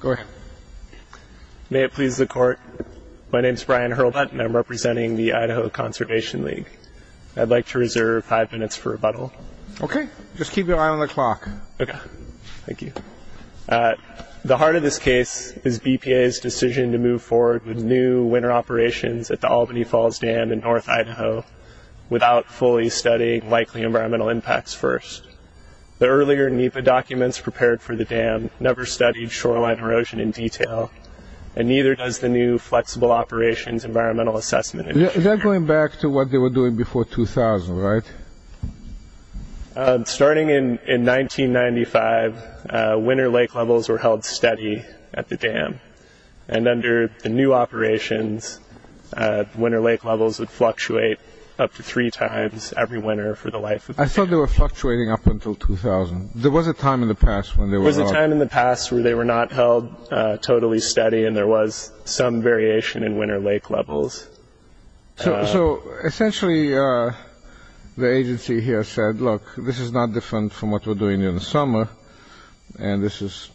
Go ahead. May it please the Court, my name is Brian Hurlbutt and I'm representing the Idaho Conservation League. I'd like to reserve five minutes for rebuttal. Okay, just keep your eye on the clock. Okay, thank you. At the heart of this case is BPA's decision to move forward with new winter operations at the Albany Falls Dam in North Idaho without fully studying likely environmental impacts first. The earlier NEPA documents prepared for the dam never studied shoreline erosion in detail and neither does the new flexible operations environmental assessment initiative. Is that going back to what they were doing before 2000, right? Starting in 1995, winter lake levels were held steady at the dam and under the new operations, winter lake levels would fluctuate up to three times every winter for the life of the dam. I thought they were fluctuating up until 2000. There was a time in the past when they were not. There was a time in the past when they were not held totally steady and there was some variation in winter lake levels. So essentially the agency here said, look, this is not different from what we're doing in the summer and this is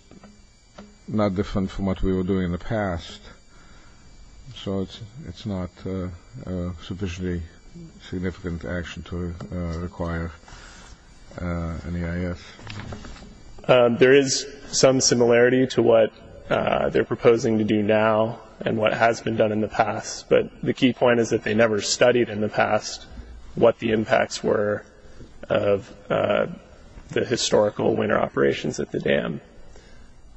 not different from what we were doing in the past. So it's not sufficiently significant action to require an EIS. There is some similarity to what they're proposing to do now and what has been done in the past, but the key point is that they never studied in the past what the impacts were of the historical winter operations at the dam.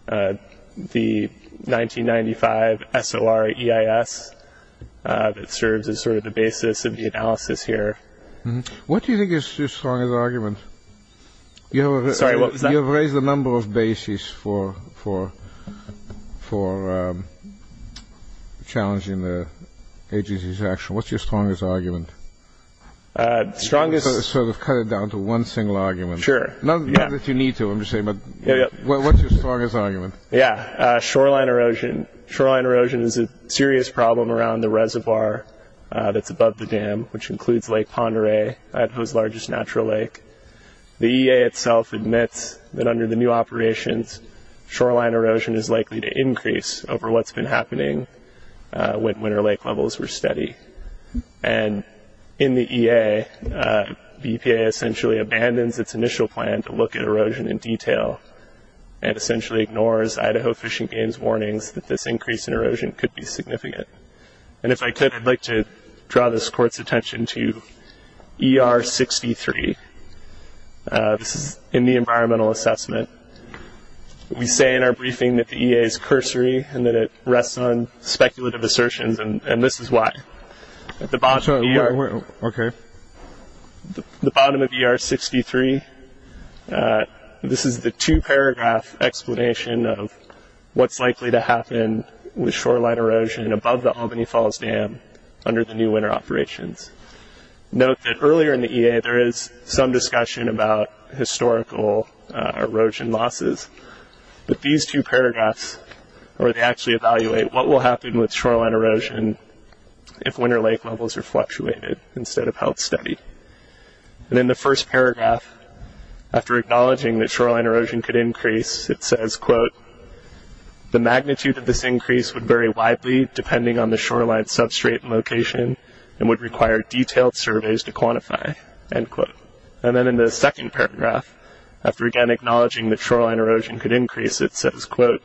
The 1995 SOR EIS serves as sort of the basis of the analysis here. What do you think is your strongest argument? Sorry, what was that? You have raised a number of bases for challenging the agency's action. What's your strongest argument? Strongest... Sort of cut it down to one single argument. Sure. Not that you need to, I'm just saying, but what's your strongest argument? Yeah, shoreline erosion. Shoreline erosion is a serious problem around the reservoir that's above the dam, which includes Lake Pend Oreille, Idaho's largest natural lake. The EA itself admits that under the new operations, shoreline erosion is likely to increase over what's been happening when winter lake levels were steady. And in the EA, the EPA essentially abandons its initial plan to look at erosion in detail and essentially ignores Idaho Fish and Game's warnings that this increase in erosion could be significant. And if I could, I'd like to draw this Court's attention to ER 63. This is in the environmental assessment. We say in our briefing that the EA is cursory and that it rests on speculative assertions, and this is why. At the bottom of ER 63, this is the two-paragraph explanation of what's likely to happen with shoreline erosion above the Albany Falls Dam under the new winter operations. Note that earlier in the EA, there is some discussion about historical erosion losses, but these two paragraphs actually evaluate what will happen with shoreline erosion if winter lake levels are fluctuated instead of held steady. And in the first paragraph, after acknowledging that shoreline erosion could increase, it says, quote, the magnitude of this increase would vary widely depending on the shoreline substrate location and would require detailed surveys to quantify, end quote. And then in the second paragraph, after again acknowledging that shoreline erosion could increase, it says, quote,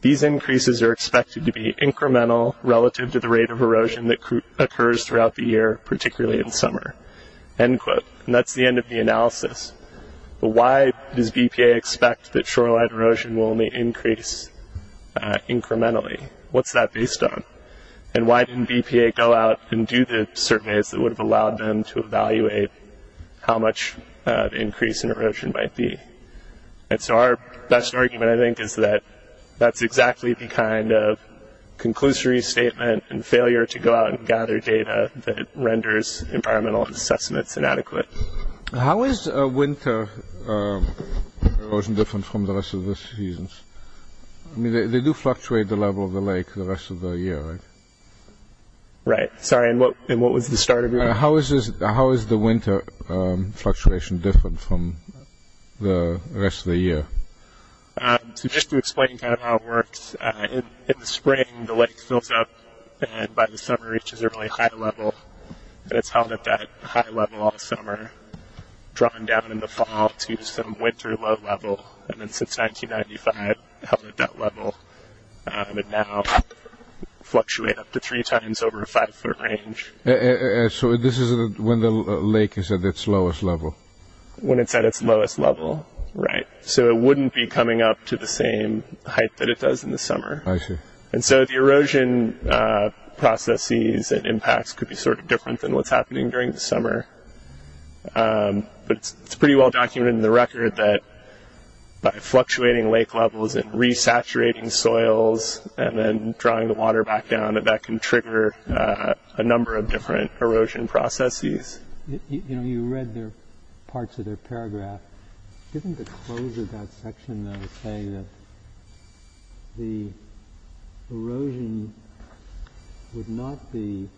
these increases are expected to be incremental relative to the rate of erosion that occurs throughout the year, particularly in summer, end quote. And that's the end of the analysis. But why does BPA expect that shoreline erosion will only increase incrementally? What's that based on? And why didn't BPA go out and do the surveys that would have allowed them to evaluate how much increase in erosion might be? And so our best argument, I think, is that that's exactly the kind of conclusory statement and failure to go out and gather data that renders environmental assessments inadequate. How is winter erosion different from the rest of the seasons? I mean, they do fluctuate the level of the lake the rest of the year, right? Right. Sorry, and what was the start of your question? How is the winter fluctuation different from the rest of the year? So just to explain kind of how it works, in the spring the lake fills up and by the summer it reaches a really high level, and it's held at that high level all summer, drawn down in the fall to some winter low level, and then since 1995 held at that level, and now fluctuate up to three times over a five-foot range. So this is when the lake is at its lowest level? When it's at its lowest level, right. So it wouldn't be coming up to the same height that it does in the summer. I see. And so the erosion processes and impacts could be sort of different than what's happening during the summer, but it's pretty well documented in the record that by fluctuating lake levels and re-saturating soils and then drawing the water back down, that that can trigger a number of different erosion processes. You know, you read parts of their paragraph. Didn't the close of that section say that the erosion would not be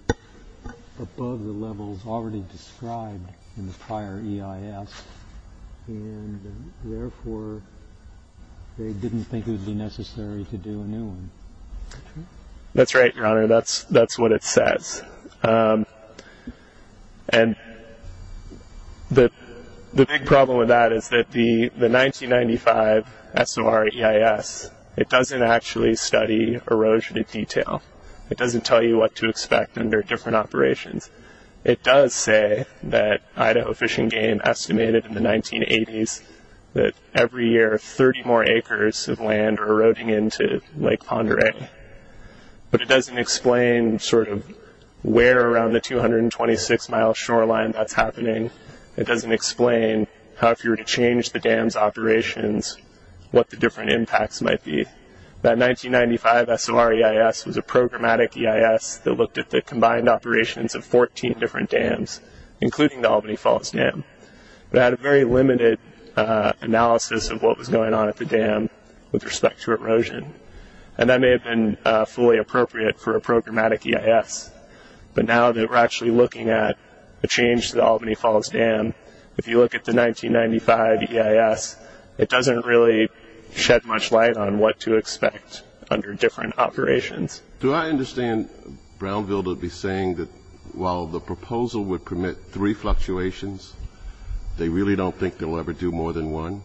above the levels already described in the prior EIS, and therefore they didn't think it would be necessary to do a new one? That's right, Your Honor. That's what it says. And the big problem with that is that the 1995 SOR EIS, it doesn't actually study erosion in detail. It doesn't tell you what to expect under different operations. It does say that Idaho Fish and Game estimated in the 1980s that every year 30 more acres of land are eroding into Lake Pend Oreille. But it doesn't explain sort of where around the 226-mile shoreline that's happening. It doesn't explain how if you were to change the dam's operations, what the different impacts might be. That 1995 SOR EIS was a programmatic EIS that looked at the combined operations of 14 different dams, including the Albany Falls Dam. It had a very limited analysis of what was going on at the dam with respect to erosion, and that may have been fully appropriate for a programmatic EIS. But now that we're actually looking at a change to the Albany Falls Dam, if you look at the 1995 EIS, it doesn't really shed much light on what to expect under different operations. Do I understand Brownville to be saying that while the proposal would permit three fluctuations, they really don't think they'll ever do more than one?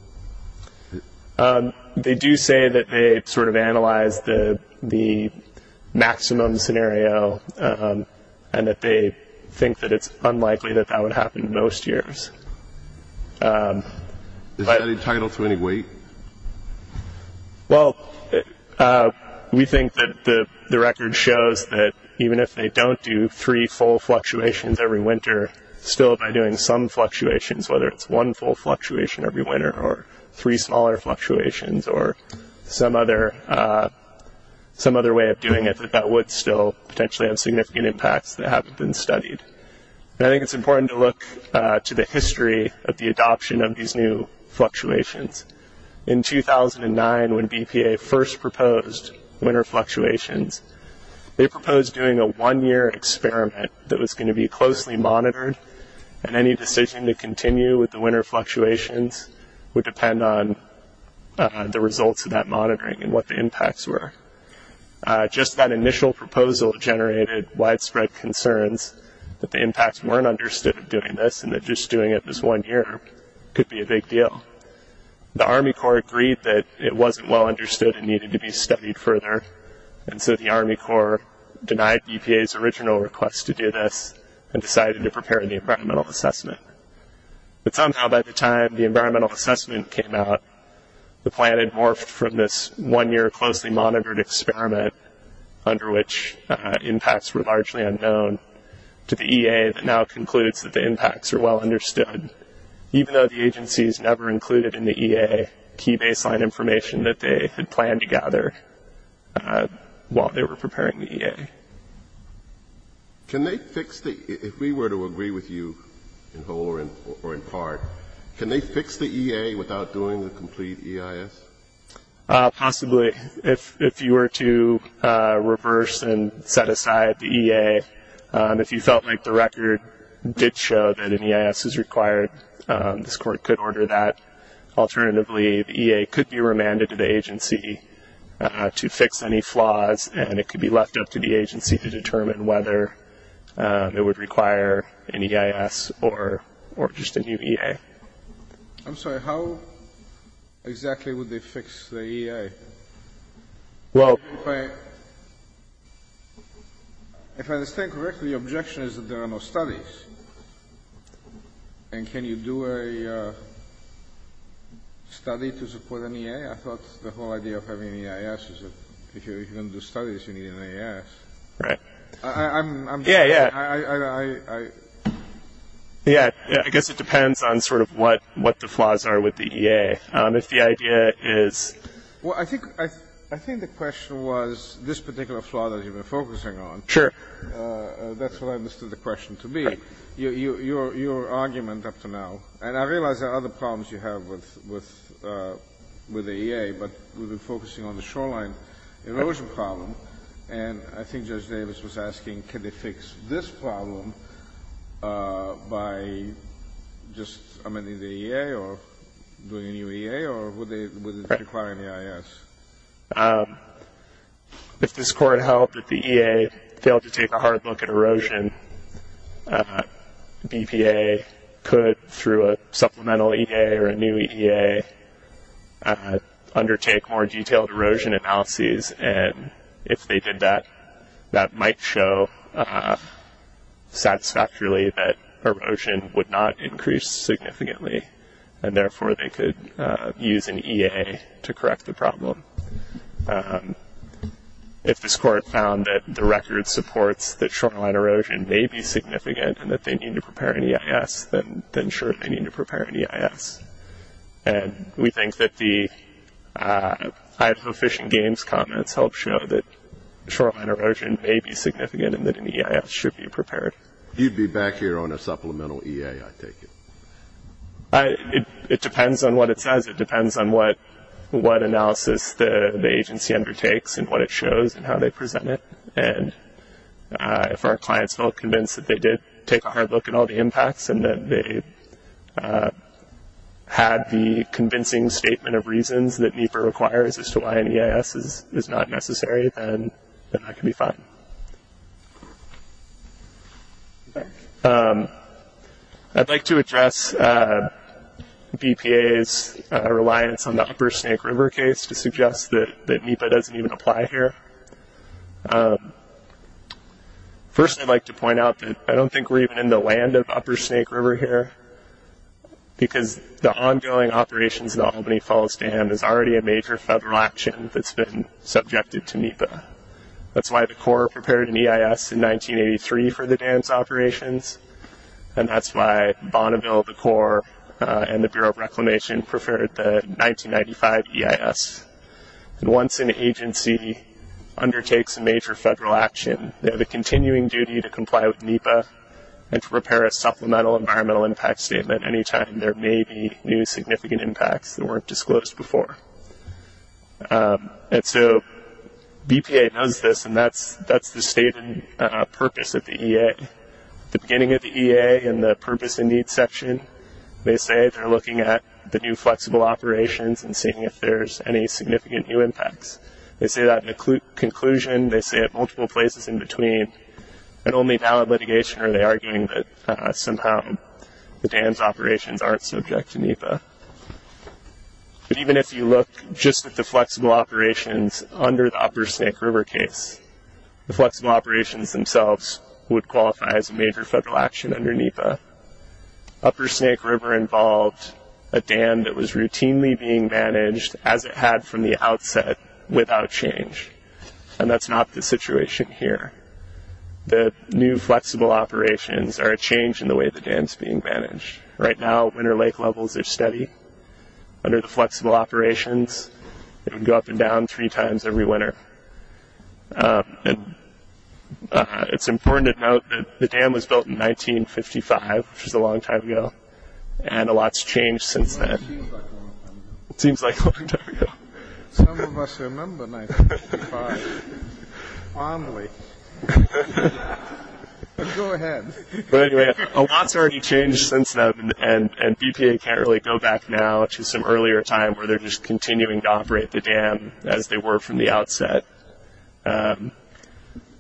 They do say that they sort of analyzed the maximum scenario and that they think that it's unlikely that that would happen most years. Is that entitled to any weight? Well, we think that the record shows that even if they don't do three full fluctuations every winter, still by doing some fluctuations, whether it's one full fluctuation every winter or three smaller fluctuations or some other way of doing it, that that would still potentially have significant impacts that haven't been studied. And I think it's important to look to the history of the adoption of these new fluctuations. In 2009, when BPA first proposed winter fluctuations, they proposed doing a one-year experiment that was going to be closely monitored, and any decision to continue with the winter fluctuations would depend on the results of that monitoring and what the impacts were. Just that initial proposal generated widespread concerns that the impacts weren't understood of doing this and that just doing it this one year could be a big deal. The Army Corps agreed that it wasn't well understood and needed to be studied further, and so the Army Corps denied BPA's original request to do this and decided to prepare the environmental assessment. But somehow by the time the environmental assessment came out, the plan had morphed from this one-year closely monitored experiment, under which impacts were largely unknown, to the EA that now concludes that the impacts are well understood, even though the agencies never included in the EA key baseline information that they had planned to gather while they were preparing the EA. If we were to agree with you in whole or in part, can they fix the EA without doing the complete EIS? Possibly. If you were to reverse and set aside the EA, if you felt like the record did show that an EIS is required, this court could order that. Alternatively, the EA could be remanded to the agency to fix any flaws, and it could be left up to the agency to determine whether it would require an EIS or just a new EA. I'm sorry, how exactly would they fix the EA? Well, if I understand correctly, your objection is that there are no studies. And can you do a study to support an EA? I thought the whole idea of having an EIS is that if you're going to do studies, you need an EIS. I'm just saying. Yeah, yeah. I guess it depends on sort of what the flaws are with the EA. If the idea is. Well, I think the question was this particular flaw that you've been focusing on. Sure. That's what I understood the question to be. Your argument up to now, and I realize there are other problems you have with the EA, but we've been focusing on the shoreline erosion problem. And I think Judge Davis was asking, can they fix this problem by just amending the EA or doing a new EA, or would it require an EIS? If this Court held that the EA failed to take a hard look at erosion, BPA could, through a supplemental EA or a new EA, undertake more detailed erosion analyses. And if they did that, that might show satisfactorily that erosion would not increase significantly, and therefore they could use an EA to correct the problem. If this Court found that the record supports that shoreline erosion may be significant and that they need to prepare an EIS, then sure, they need to prepare an EIS. And we think that the Idaho Fish and Games comments help show that shoreline erosion may be significant and that an EIS should be prepared. You'd be back here on a supplemental EA, I take it. It depends on what it says. It depends on what analysis the agency undertakes and what it shows and how they present it. And if our clients felt convinced that they did take a hard look at all the impacts and that they had the convincing statement of reasons that NEPA requires as to why an EIS is not necessary, then that can be fine. I'd like to address BPA's reliance on the Upper Snake River case to suggest that NEPA doesn't even apply here. First, I'd like to point out that I don't think we're even in the land of Upper Snake River here, because the ongoing operations of the Albany Falls Dam is already a major federal action that's been subjected to NEPA. That's why the Corps prepared an EIS in 1983 for the dam's operations, and that's why Bonneville, the Corps, and the Bureau of Reclamation prepared the 1995 EIS. Once an agency undertakes a major federal action, they have a continuing duty to comply with NEPA and to prepare a supplemental environmental impact statement any time there may be new significant impacts that weren't disclosed before. And so BPA knows this, and that's the stated purpose of the EA. At the beginning of the EA in the Purpose and Needs section, they say they're looking at the new flexible operations and seeing if there's any significant new impacts. They say that in conclusion. They say it multiple places in between. And only valid litigation are they arguing that somehow the dam's operations aren't subject to NEPA. But even if you look just at the flexible operations under the Upper Snake River case, the flexible operations themselves would qualify as a major federal action under NEPA. Upper Snake River involved a dam that was routinely being managed as it had from the outset without change, and that's not the situation here. The new flexible operations are a change in the way the dam's being managed. Right now, winter lake levels are steady. Under the flexible operations, it would go up and down three times every winter. And it's important to note that the dam was built in 1955, which is a long time ago, and a lot's changed since then. It seems like a long time ago. It seems like a long time ago. Some of us remember 1955. Finally. Go ahead. But anyway, a lot's already changed since then, and BPA can't really go back now to some earlier time where they're just continuing to operate the dam as they were from the outset. And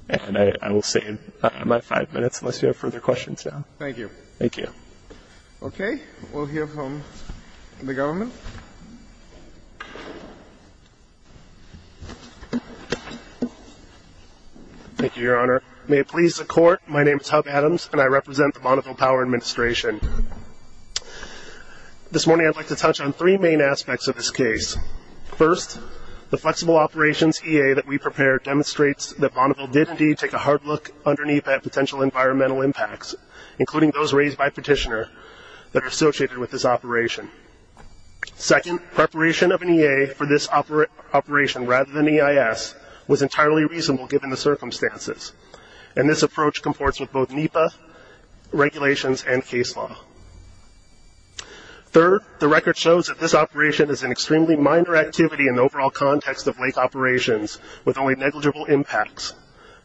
I will save my five minutes unless you have further questions. Thank you. Thank you. Okay. We'll hear from the government. Thank you, Your Honor. May it please the Court, my name is Hub Adams, and I represent the Bonneville Power Administration. This morning I'd like to touch on three main aspects of this case. First, the flexible operations EA that we prepared demonstrates that Bonneville did indeed take a hard look under NEPA at potential environmental impacts, including those raised by petitioner that are associated with this operation. Second, preparation of an EA for this operation rather than EIS was entirely reasonable given the circumstances, and this approach comports with both NEPA regulations and case law. Third, the record shows that this operation is an extremely minor activity in the overall context of lake operations with only negligible impacts,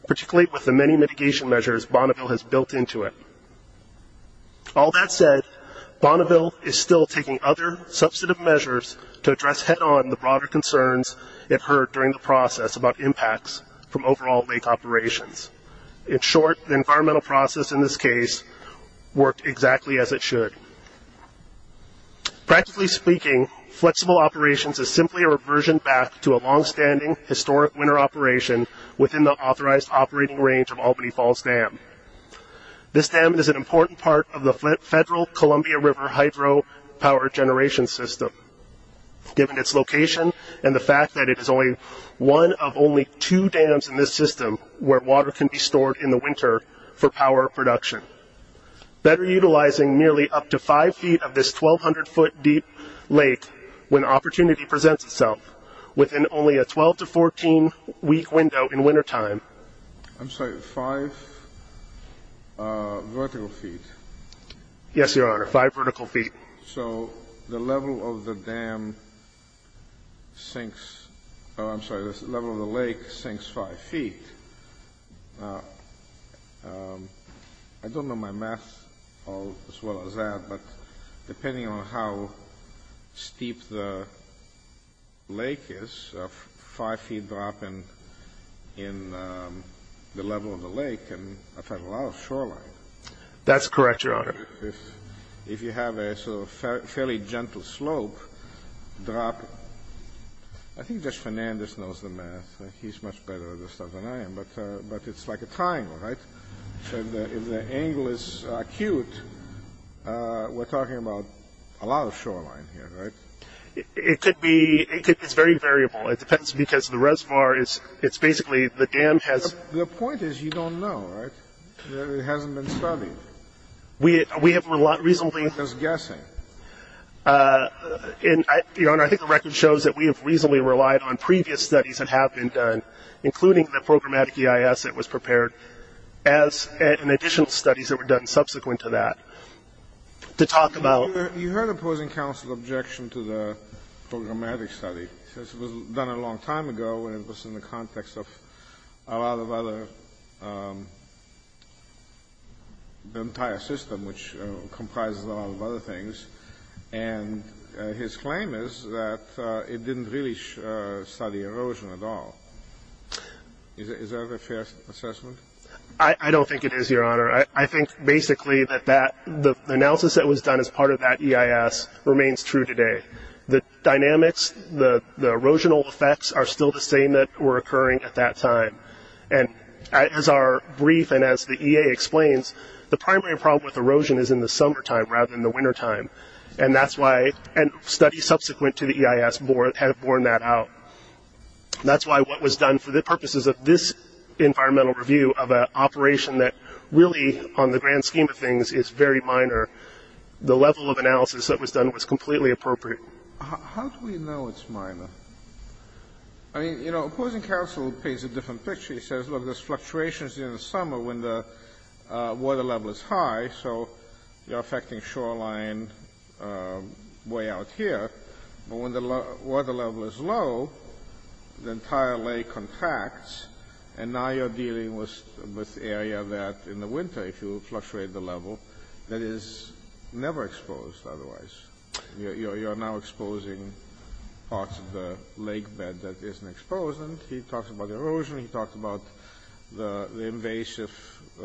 particularly with the many mitigation measures Bonneville has built into it. All that said, Bonneville is still taking other substantive measures to address head-on the broader concerns it heard during the process about impacts from overall lake operations. In short, the environmental process in this case worked exactly as it should. Practically speaking, flexible operations is simply a reversion back to a long-standing historic winter operation within the authorized operating range of Albany Falls Dam. This dam is an important part of the federal Columbia River hydro power generation system. Given its location and the fact that it is one of only two dams in this system where water can be stored in the winter for power production. Better utilizing nearly up to five feet of this 1,200-foot deep lake when opportunity presents itself within only a 12- to 14-week window in wintertime. I'm sorry, five vertical feet? Yes, Your Honor, five vertical feet. So the level of the dam sinks, oh, I'm sorry, the level of the lake sinks five feet. I don't know my math as well as that, but depending on how steep the lake is, five feet drop in the level of the lake can affect a lot of shoreline. That's correct, Your Honor. If you have a sort of fairly gentle slope drop, I think Judge Fernandez knows the math. He's much better at this stuff than I am, but it's like a triangle, right? So if the angle is acute, we're talking about a lot of shoreline here, right? It could be. It's very variable. It depends because the reservoir is basically the dam has. The point is you don't know, right? It hasn't been studied. We have reasonably. Just guessing. Your Honor, I think the record shows that we have reasonably relied on previous studies that have been done, including the programmatic EIS that was prepared and additional studies that were done subsequent to that, to talk about. You heard opposing counsel's objection to the programmatic study. It was done a long time ago, and it was in the context of a lot of other entire system, which comprises a lot of other things. And his claim is that it didn't really study erosion at all. Is that a fair assessment? I don't think it is, Your Honor. I think basically that the analysis that was done as part of that EIS remains true today. The dynamics, the erosional effects are still the same that were occurring at that time. And as our brief and as the EA explains, the primary problem with erosion is in the summertime rather than the wintertime. And that's why studies subsequent to the EIS had borne that out. That's why what was done for the purposes of this environmental review of an operation that really, on the grand scheme of things, is very minor, the level of analysis that was done was completely appropriate. How do we know it's minor? I mean, you know, opposing counsel paints a different picture. He says, look, there's fluctuations in the summer when the water level is high, so you're affecting shoreline way out here. But when the water level is low, the entire lake contracts, and now you're dealing with area that in the winter, if you fluctuate the level, that is never exposed otherwise. You're now exposing parts of the lake bed that isn't exposed. And he talks about erosion. He talks about the invasive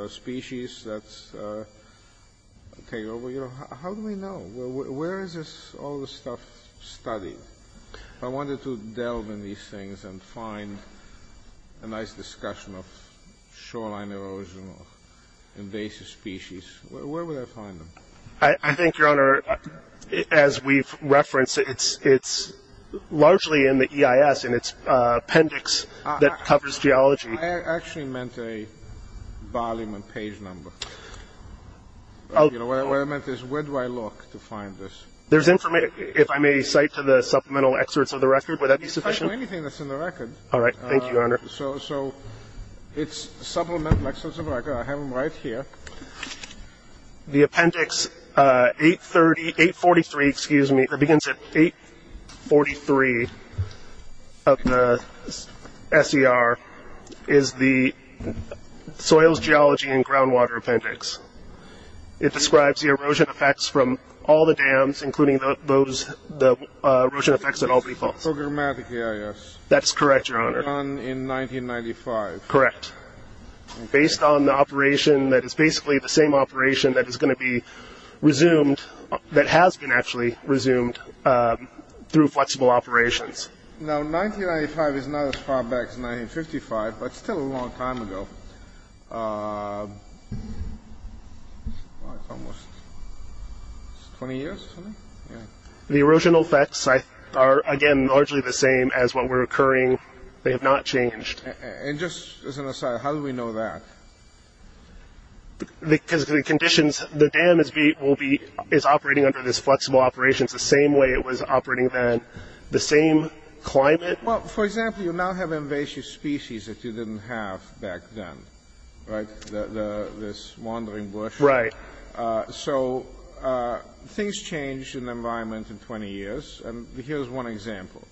species that take over. You know, how do we know? Where is all this stuff studied? If I wanted to delve in these things and find a nice discussion of shoreline erosion or invasive species, where would I find them? I think, Your Honor, as we've referenced, it's largely in the EIS in its appendix that covers geology. I actually meant a volume and page number. What I meant is where do I look to find this? There's information. If I may cite to the supplemental excerpts of the record, would that be sufficient? You can cite to anything that's in the record. All right. Thank you, Your Honor. So it's supplemental excerpts of the record. I have them right here. The appendix 843, excuse me, that begins at 843 of the SER is the soils, geology, and groundwater appendix. It describes the erosion effects from all the dams, including the erosion effects at Albany Falls. Programmatic EIS. That's correct, Your Honor. Done in 1995. Correct. Based on the operation that is basically the same operation that is going to be resumed, that has been actually resumed through flexible operations. Now, 1995 is not as far back as 1955, but still a long time ago. Well, it's almost 20 years, isn't it? Yeah. The erosional effects are, again, largely the same as what were occurring. They have not changed. And just as an aside, how do we know that? Because of the conditions. The dam is operating under these flexible operations the same way it was operating then, the same climate. Well, for example, you now have invasive species that you didn't have back then, right? This wandering bush. Right. So things changed in the environment in 20 years. And here's one example.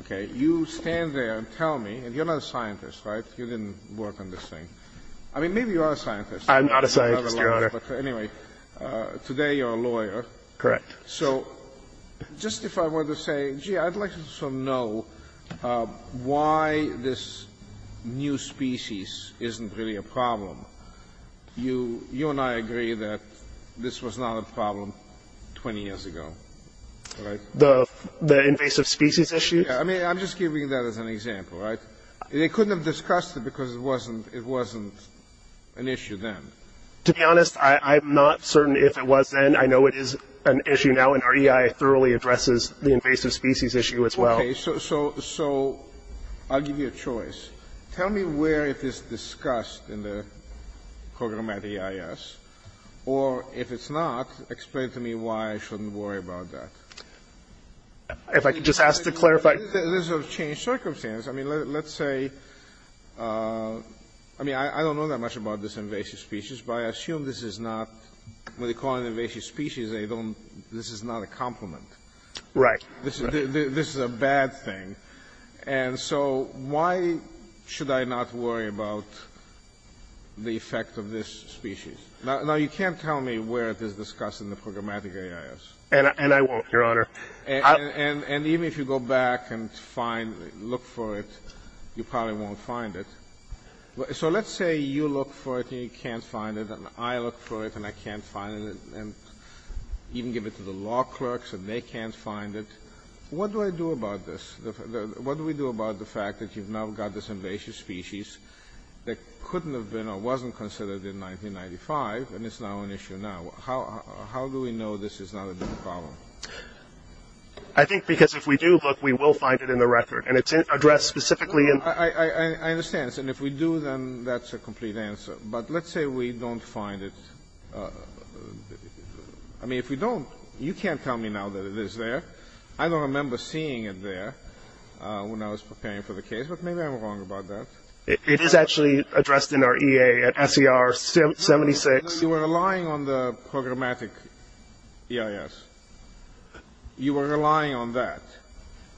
Okay. You stand there and tell me, and you're not a scientist, right? You didn't work on this thing. I mean, maybe you are a scientist. I'm not a scientist, Your Honor. Anyway, today you're a lawyer. Correct. So just if I were to say, gee, I'd like to know why this new species isn't really a problem. You and I agree that this was not a problem 20 years ago, right? The invasive species issue? Yeah. I mean, I'm just giving you that as an example, right? They couldn't have discussed it because it wasn't an issue then. To be honest, I'm not certain if it was then. I know it is an issue now, and our EI thoroughly addresses the invasive species issue as well. Okay. So I'll give you a choice. Tell me where it is discussed in the program at EIS. Or if it's not, explain to me why I shouldn't worry about that. If I could just ask to clarify. There's a change of circumstance. I mean, let's say — I mean, I don't know that much about this invasive species, but I assume this is not — when they call it an invasive species, they don't — this is not a compliment. Right. This is a bad thing. And so why should I not worry about the effect of this species? Now, you can't tell me where it is discussed in the program at EIS. And I won't, Your Honor. And even if you go back and find — look for it, you probably won't find it. So let's say you look for it and you can't find it, and I look for it and I can't find it, and even give it to the law clerks and they can't find it. What do I do about this? What do we do about the fact that you've now got this invasive species that couldn't have been or wasn't considered in 1995, and it's now an issue now? How do we know this is not a different problem? I think because if we do look, we will find it in the record. And it's addressed specifically in — I understand. And if we do, then that's a complete answer. But let's say we don't find it. I mean, if we don't, you can't tell me now that it is there. I don't remember seeing it there when I was preparing for the case, but maybe I'm wrong about that. It is actually addressed in our EA at SER 76. You were relying on the programmatic EIS. You were relying on that.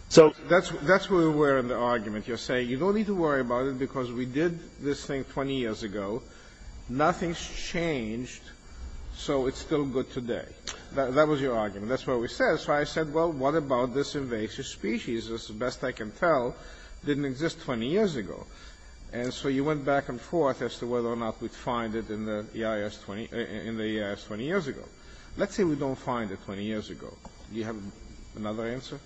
So that's where we were in the argument. You're saying you don't need to worry about it because we did this thing 20 years ago. Nothing's changed, so it's still good today. That was your argument. That's what we said. So I said, well, what about this invasive species? It's the best I can tell. It didn't exist 20 years ago. And so you went back and forth as to whether or not we'd find it in the EIS 20 years ago. Let's say we don't find it 20 years ago. Do you have another answer?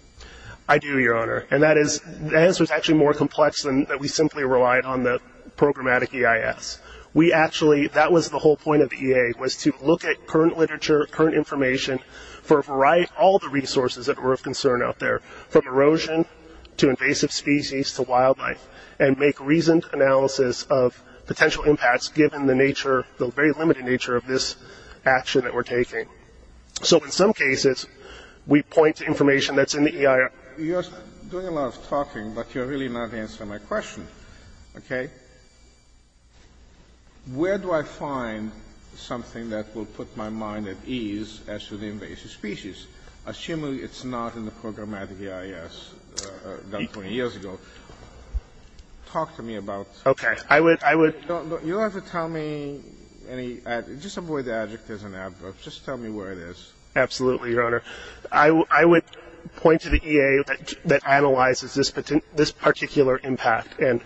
I do, Your Honor. And that is — the answer is actually more complex than that we simply relied on the programmatic EIS. We actually — that was the whole point of the EA, was to look at current literature, current information for a variety — all the resources that were of concern out there, from erosion to invasive species to wildlife, and make reasoned analysis of potential impacts given the nature, the very limited nature of this action that we're taking. So in some cases, we point to information that's in the EIS. You're doing a lot of talking, but you're really not answering my question. Okay? Where do I find something that will put my mind at ease as to the invasive species, assuming it's not in the programmatic EIS done 20 years ago? Talk to me about — Okay. I would — You don't have to tell me any — just avoid the adjectives and adverbs. Just tell me where it is. Absolutely, Your Honor. I would point to the EA that analyzes this particular impact and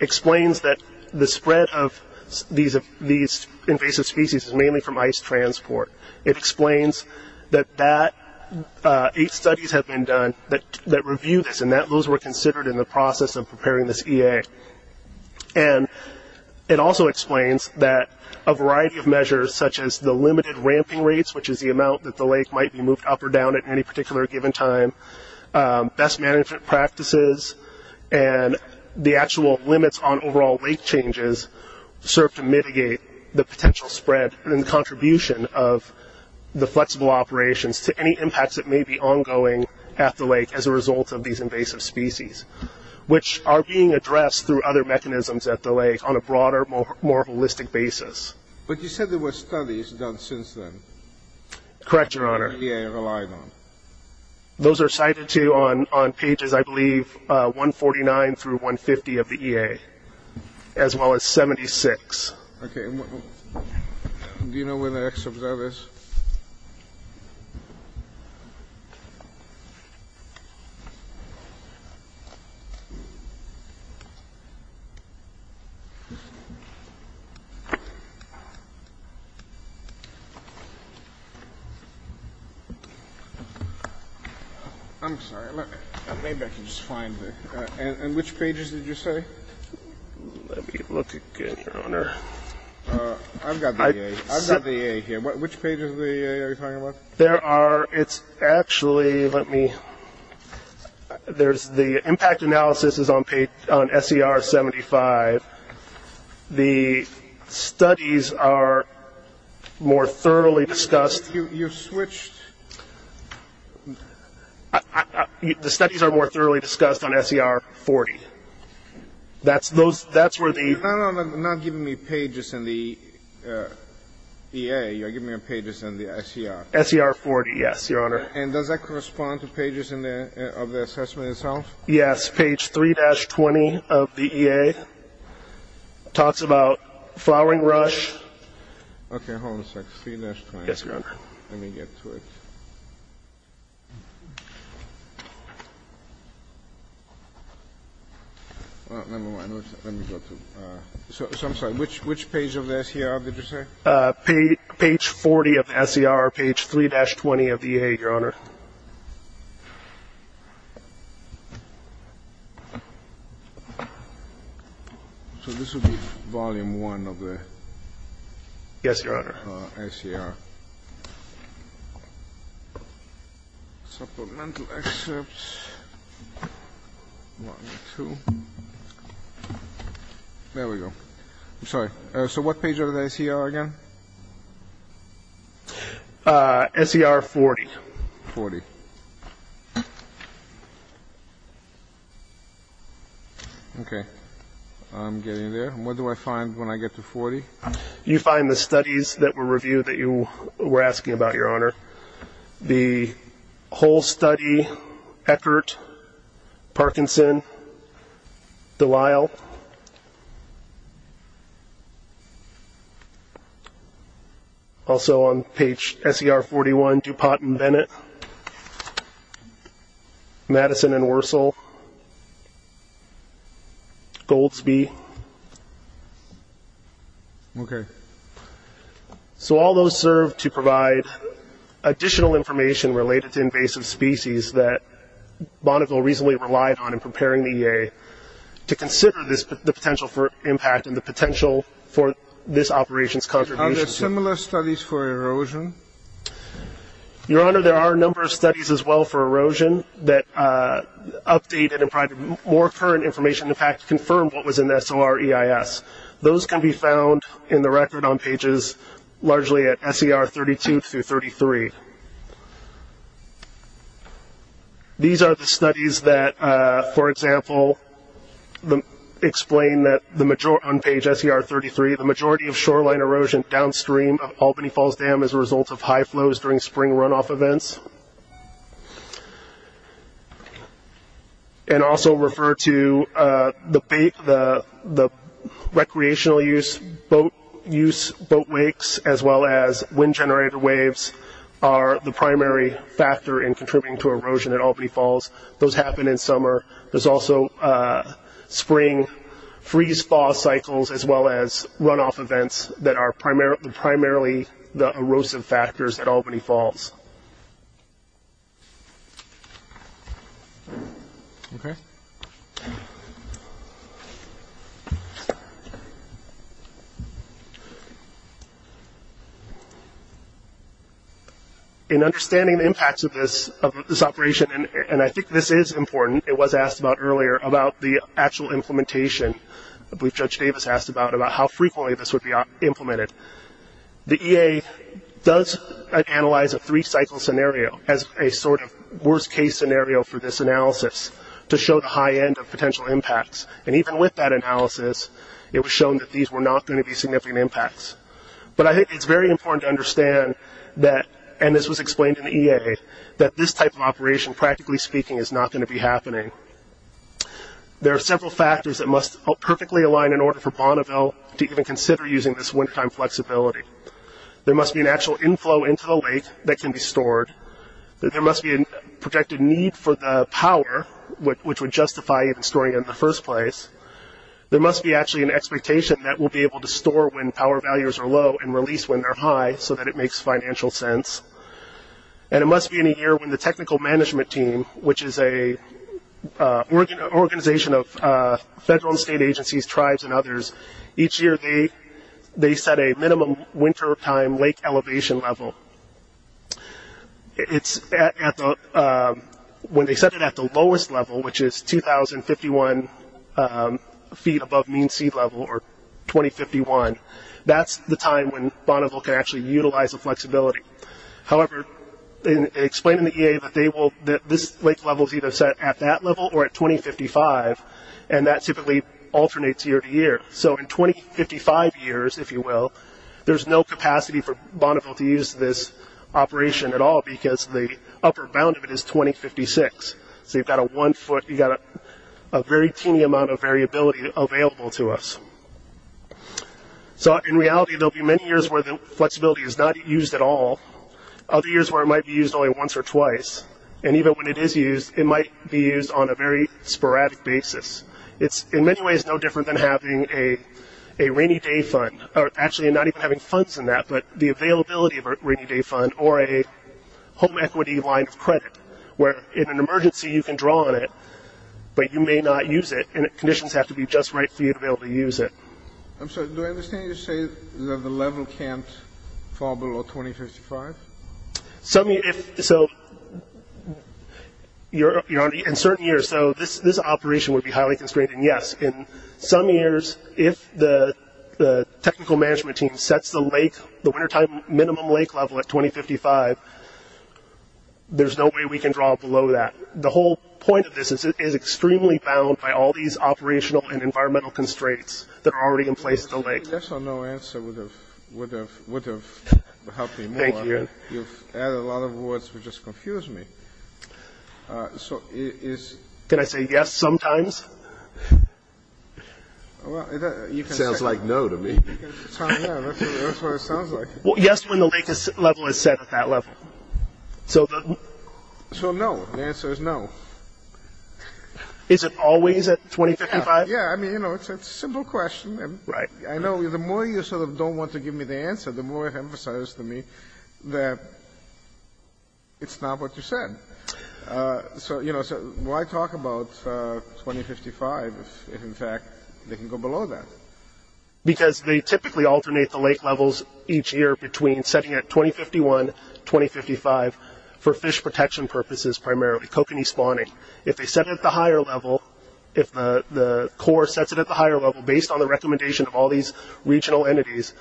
explains that the spread of these invasive species is mainly from ice transport. It explains that eight studies have been done that review this, and those were considered in the process of preparing this EA. And it also explains that a variety of measures, such as the limited ramping rates, which is the amount that the lake might be moved up or down at any particular given time, best management practices, and the actual limits on overall lake changes serve to mitigate the potential spread and contribution of the flexible operations to any impacts that may be ongoing at the lake as a result of these invasive species, which are being addressed through other mechanisms at the lake on a broader, more holistic basis. But you said there were studies done since then — Correct, Your Honor. — that the EA relied on. Those are cited, too, on pages, I believe, 149 through 150 of the EA, as well as 76. Okay. Do you know where the excerpt of that is? I'm sorry. Maybe I can just find it. And which pages did you say? Let me look again, Your Honor. I've got the EA. I've got the EA here. Which pages of the EA are you talking about? There are — it's actually — let me — there's the impact analysis is on SER 75. The studies are more thoroughly discussed — You switched — The studies are more thoroughly discussed on SER 40. That's where the — No, no, no. You're not giving me pages in the EA. You're giving me pages in the SER. SER 40, yes, Your Honor. And does that correspond to pages of the assessment itself? Yes. Page 3-20 of the EA talks about flowering rush. Okay. Hold on a sec. 3-20. Yes, Your Honor. Let me get to it. Well, never mind. Let me go to — so I'm sorry. Which page of the SER did you say? Page 40 of the SER, page 3-20 of the EA, Your Honor. So this would be volume one of the — Yes, Your Honor. SER. Supplemental excerpts, volume two. There we go. I'm sorry. So what page of the SER again? SER 40. 40. Okay. I'm getting there. And what do I find when I get to 40? You find the studies that were reviewed that you were asking about, Your Honor. The whole study, Eckert, Parkinson, Delisle. Also on page SER 41, DuPont and Bennett. Madison and Wursel. Goldsby. Okay. So all those serve to provide additional information related to invasive species that Bonneville reasonably relied on in preparing the EA to consider the potential for impact and the potential for this operation's contribution. Are there similar studies for erosion? Your Honor, there are a number of studies as well for erosion that updated and provided more current information to in fact confirm what was in the SOR EIS. Those can be found in the record on pages largely at SER 32-33. These are the studies that, for example, explain that on page SER 33, the majority of shoreline erosion downstream of Albany Falls Dam is a result of high flows during spring runoff events. And also refer to the recreational use boat wakes as well as wind generator waves are the primary factor in contributing to erosion at Albany Falls. Those happen in summer. There's also spring freeze-thaw cycles as well as runoff events that are primarily the erosive factors at Albany Falls. Okay. In understanding the impacts of this operation, and I think this is important, it was asked about earlier about the actual implementation. I believe Judge Davis asked about how frequently this would be implemented. The EA does analyze a three-cycle scenario as a sort of worst-case scenario for this analysis to show the high end of potential impacts. And even with that analysis, it was shown that these were not going to be significant impacts. But I think it's very important to understand that, and this was explained in the EA, that this type of operation, practically speaking, is not going to be happening. There are several factors that must perfectly align in order for Bonneville to even consider using this wintertime flexibility. There must be an actual inflow into the lake that can be stored. There must be a projected need for the power, which would justify storing it in the first place. There must be actually an expectation that we'll be able to store when power values are low and release when they're high so that it makes financial sense. And it must be in a year when the technical management team, which is an organization of federal and state agencies, tribes and others, each year they set a minimum wintertime lake elevation level. When they set it at the lowest level, which is 2,051 feet above mean sea level, or 2,051, that's the time when Bonneville can actually utilize the flexibility. However, they explain in the EA that this lake level is either set at that level or at 2,055, and that typically alternates year to year. So in 2,055 years, if you will, there's no capacity for Bonneville to use this operation at all because the upper bound of it is 2,056. So you've got a very teeny amount of variability available to us. So in reality, there will be many years where the flexibility is not used at all, other years where it might be used only once or twice, and even when it is used, it might be used on a very sporadic basis. It's in many ways no different than having a rainy day fund, or actually not even having funds in that, but the availability of a rainy day fund or a home equity line of credit where in an emergency you can draw on it, but you may not use it, and conditions have to be just right for you to be able to use it. I'm sorry, do I understand you to say that the level can't fall below 2,055? So in certain years, this operation would be highly constrained, and yes. In some years, if the technical management team sets the wintertime minimum lake level at 2,055, there's no way we can draw below that. The whole point of this is it is extremely bound by all these operational and environmental constraints that are already in place at the lake. Yes or no answer would have helped me more. Thank you. You've added a lot of words which just confuse me. Can I say yes sometimes? Sounds like no to me. Yes when the lake level is set at that level. So no, the answer is no. Is it always at 2,055? Yes, it's a simple question. I know the more you sort of don't want to give me the answer, the more it emphasizes to me that it's not what you said. So why talk about 2,055 if, in fact, they can go below that? Because they typically alternate the lake levels each year between setting at 2,051, 2,055 for fish protection purposes primarily, kokanee spawning. If they set it at the higher level, if the Corps sets it at the higher level based on the recommendation of all these regional entities,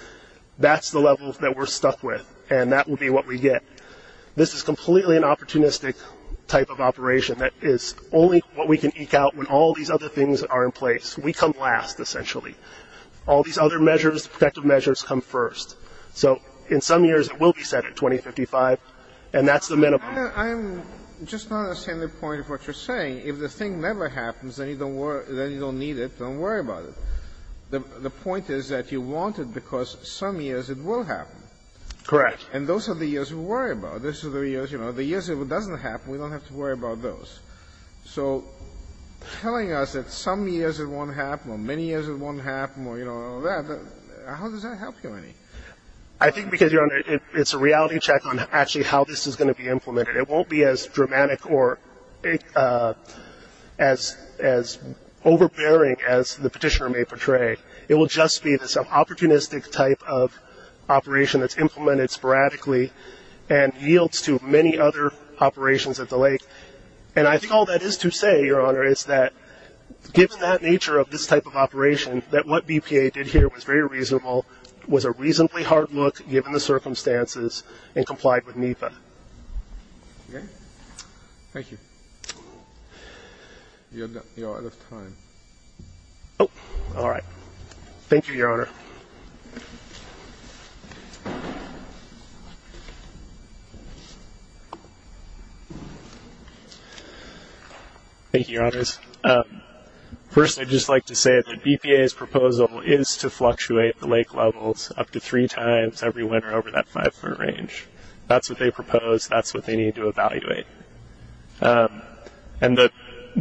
that's the level that we're stuck with, and that will be what we get. This is completely an opportunistic type of operation that is only what we can eke out when all these other things are in place. We come last, essentially. All these other measures, protective measures, come first. So in some years it will be set at 2,055, and that's the minimum. I'm just not understanding the point of what you're saying. If the thing never happens, then you don't need it. Don't worry about it. The point is that you want it because some years it will happen. Correct. And those are the years we worry about. Those are the years, you know, the years it doesn't happen, we don't have to worry about those. So telling us that some years it won't happen or many years it won't happen or, you know, all that, how does that help you any? I think because, Your Honor, it's a reality check on actually how this is going to be implemented. It won't be as dramatic or as overbearing as the petitioner may portray. It will just be this opportunistic type of operation that's implemented sporadically and yields to many other operations at the lake. And I think all that is to say, Your Honor, is that given that nature of this type of operation, that what BPA did here was very reasonable, was a reasonably hard look given the circumstances, and complied with NEPA. Okay. Thank you. You're out of time. Oh, all right. Thank you, Your Honor. Thank you, Your Honors. First, I'd just like to say that BPA's proposal is to fluctuate the lake levels up to three times every winter over that five-foot range. That's what they propose. That's what they need to evaluate. And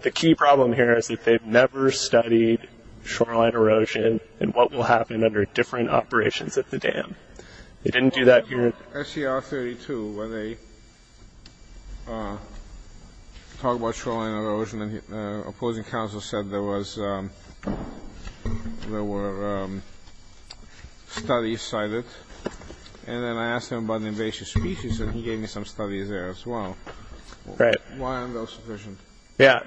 the key problem here is that they've never studied shoreline erosion and what will happen under different operations at the dam. They didn't do that here. SCR 32, where they talk about shoreline erosion, and the opposing counsel said there were studies cited. And then I asked him about an invasive species, and he gave me some studies there as well. Right. Why aren't those sufficient? Yeah,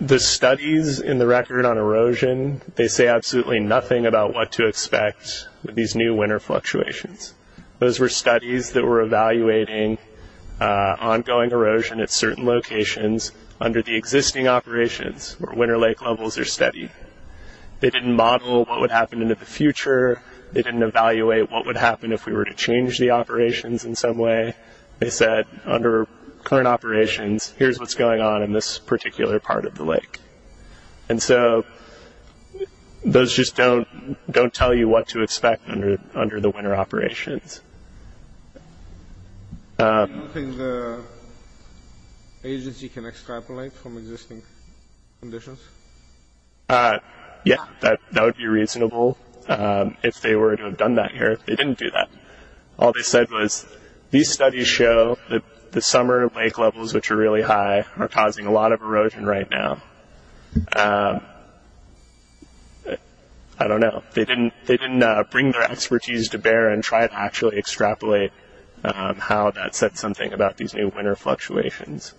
the studies in the record on erosion, they say absolutely nothing about what to expect with these new winter fluctuations. Those were studies that were evaluating ongoing erosion at certain locations under the existing operations where winter lake levels are steady. They didn't model what would happen in the future. They didn't evaluate what would happen if we were to change the operations in some way. They said under current operations, here's what's going on in this particular part of the lake. And so those just don't tell you what to expect under the winter operations. Do you think the agency can extrapolate from existing conditions? Yeah, that would be reasonable if they were to have done that here. They didn't do that. All they said was these studies show that the summer lake levels, which are really high, are causing a lot of erosion right now. I don't know. They didn't bring their expertise to bear and try to actually extrapolate how that said something about these new winter fluctuations.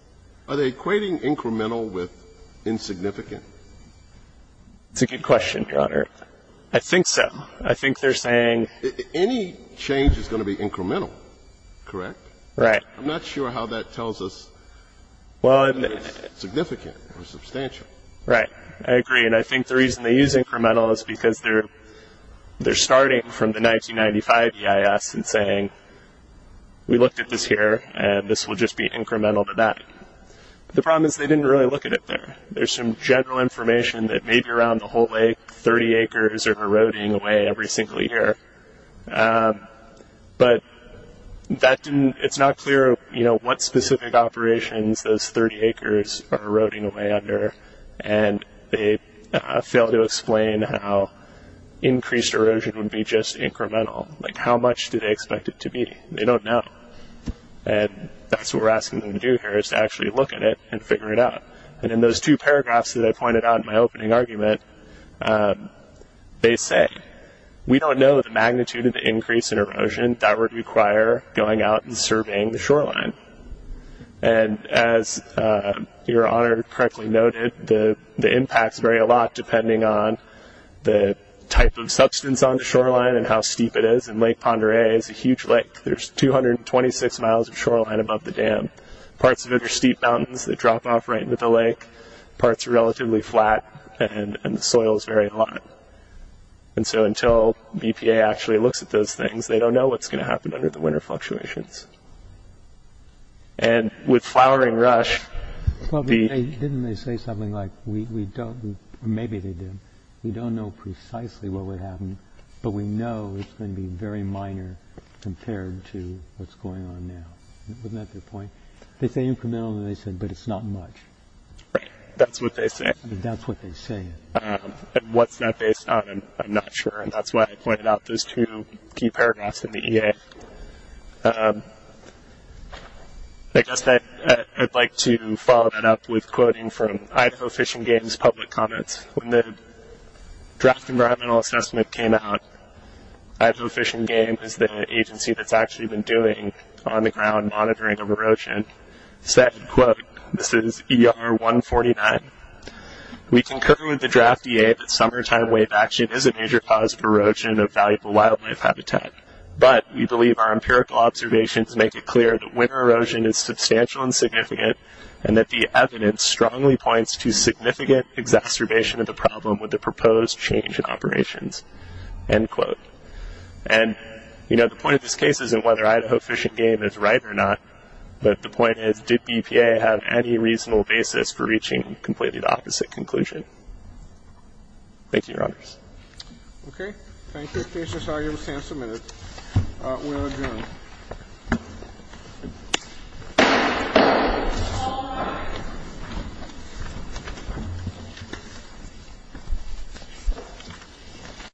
Are they equating incremental with insignificant? That's a good question, Your Honor. I think so. I think they're saying any change is going to be incremental, correct? Right. I'm not sure how that tells us whether it's significant or substantial. Right. I agree. And I think the reason they use incremental is because they're starting from the 1995 EIS and saying we looked at this here and this will just be incremental to that. The problem is they didn't really look at it there. There's some general information that maybe around the whole lake, 30 acres are eroding away every single year. But it's not clear what specific operations those 30 acres are eroding away under, and they fail to explain how increased erosion would be just incremental. Like how much do they expect it to be? They don't know. And that's what we're asking them to do here is to actually look at it and figure it out. And in those two paragraphs that I pointed out in my opening argument, they say we don't know the magnitude of the increase in erosion that would require going out and surveying the shoreline. And as Your Honor correctly noted, the impacts vary a lot depending on the type of substance on the shoreline and how steep it is. And Lake Pend Oreille is a huge lake. There's 226 miles of shoreline above the dam. Parts of it are steep mountains that drop off right into the lake. Parts are relatively flat, and the soil is very hot. And so until BPA actually looks at those things, they don't know what's going to happen under the winter fluctuations. And with flowering rush, the- Well, didn't they say something like we don't, or maybe they did, we don't know precisely what would happen, but we know it's going to be very minor compared to what's going on now. Wasn't that their point? They say incremental, and they said, but it's not much. Right. That's what they say. That's what they say. And what's that based on, I'm not sure. And that's why I pointed out those two key paragraphs in the EA. I guess I'd like to follow that up with quoting from Idaho Fish and Game's public comments. When the draft environmental assessment came out, Idaho Fish and Game is the agency that's actually been doing on-the-ground monitoring of erosion, said, quote, this is ER 149. We concur with the draft EA that summertime wave action is a major cause of erosion of valuable wildlife habitat, but we believe our empirical observations make it clear that winter erosion is substantial and significant, and that the evidence strongly points to significant exacerbation of the problem with the proposed change in operations, end quote. And, you know, the point of this case isn't whether Idaho Fish and Game is right or not, but the point is, did EPA have any reasonable basis for reaching completely the opposite conclusion? Thank you, Your Honors. Okay. Thank you. The case is argued and submitted. We'll adjourn. Thank you.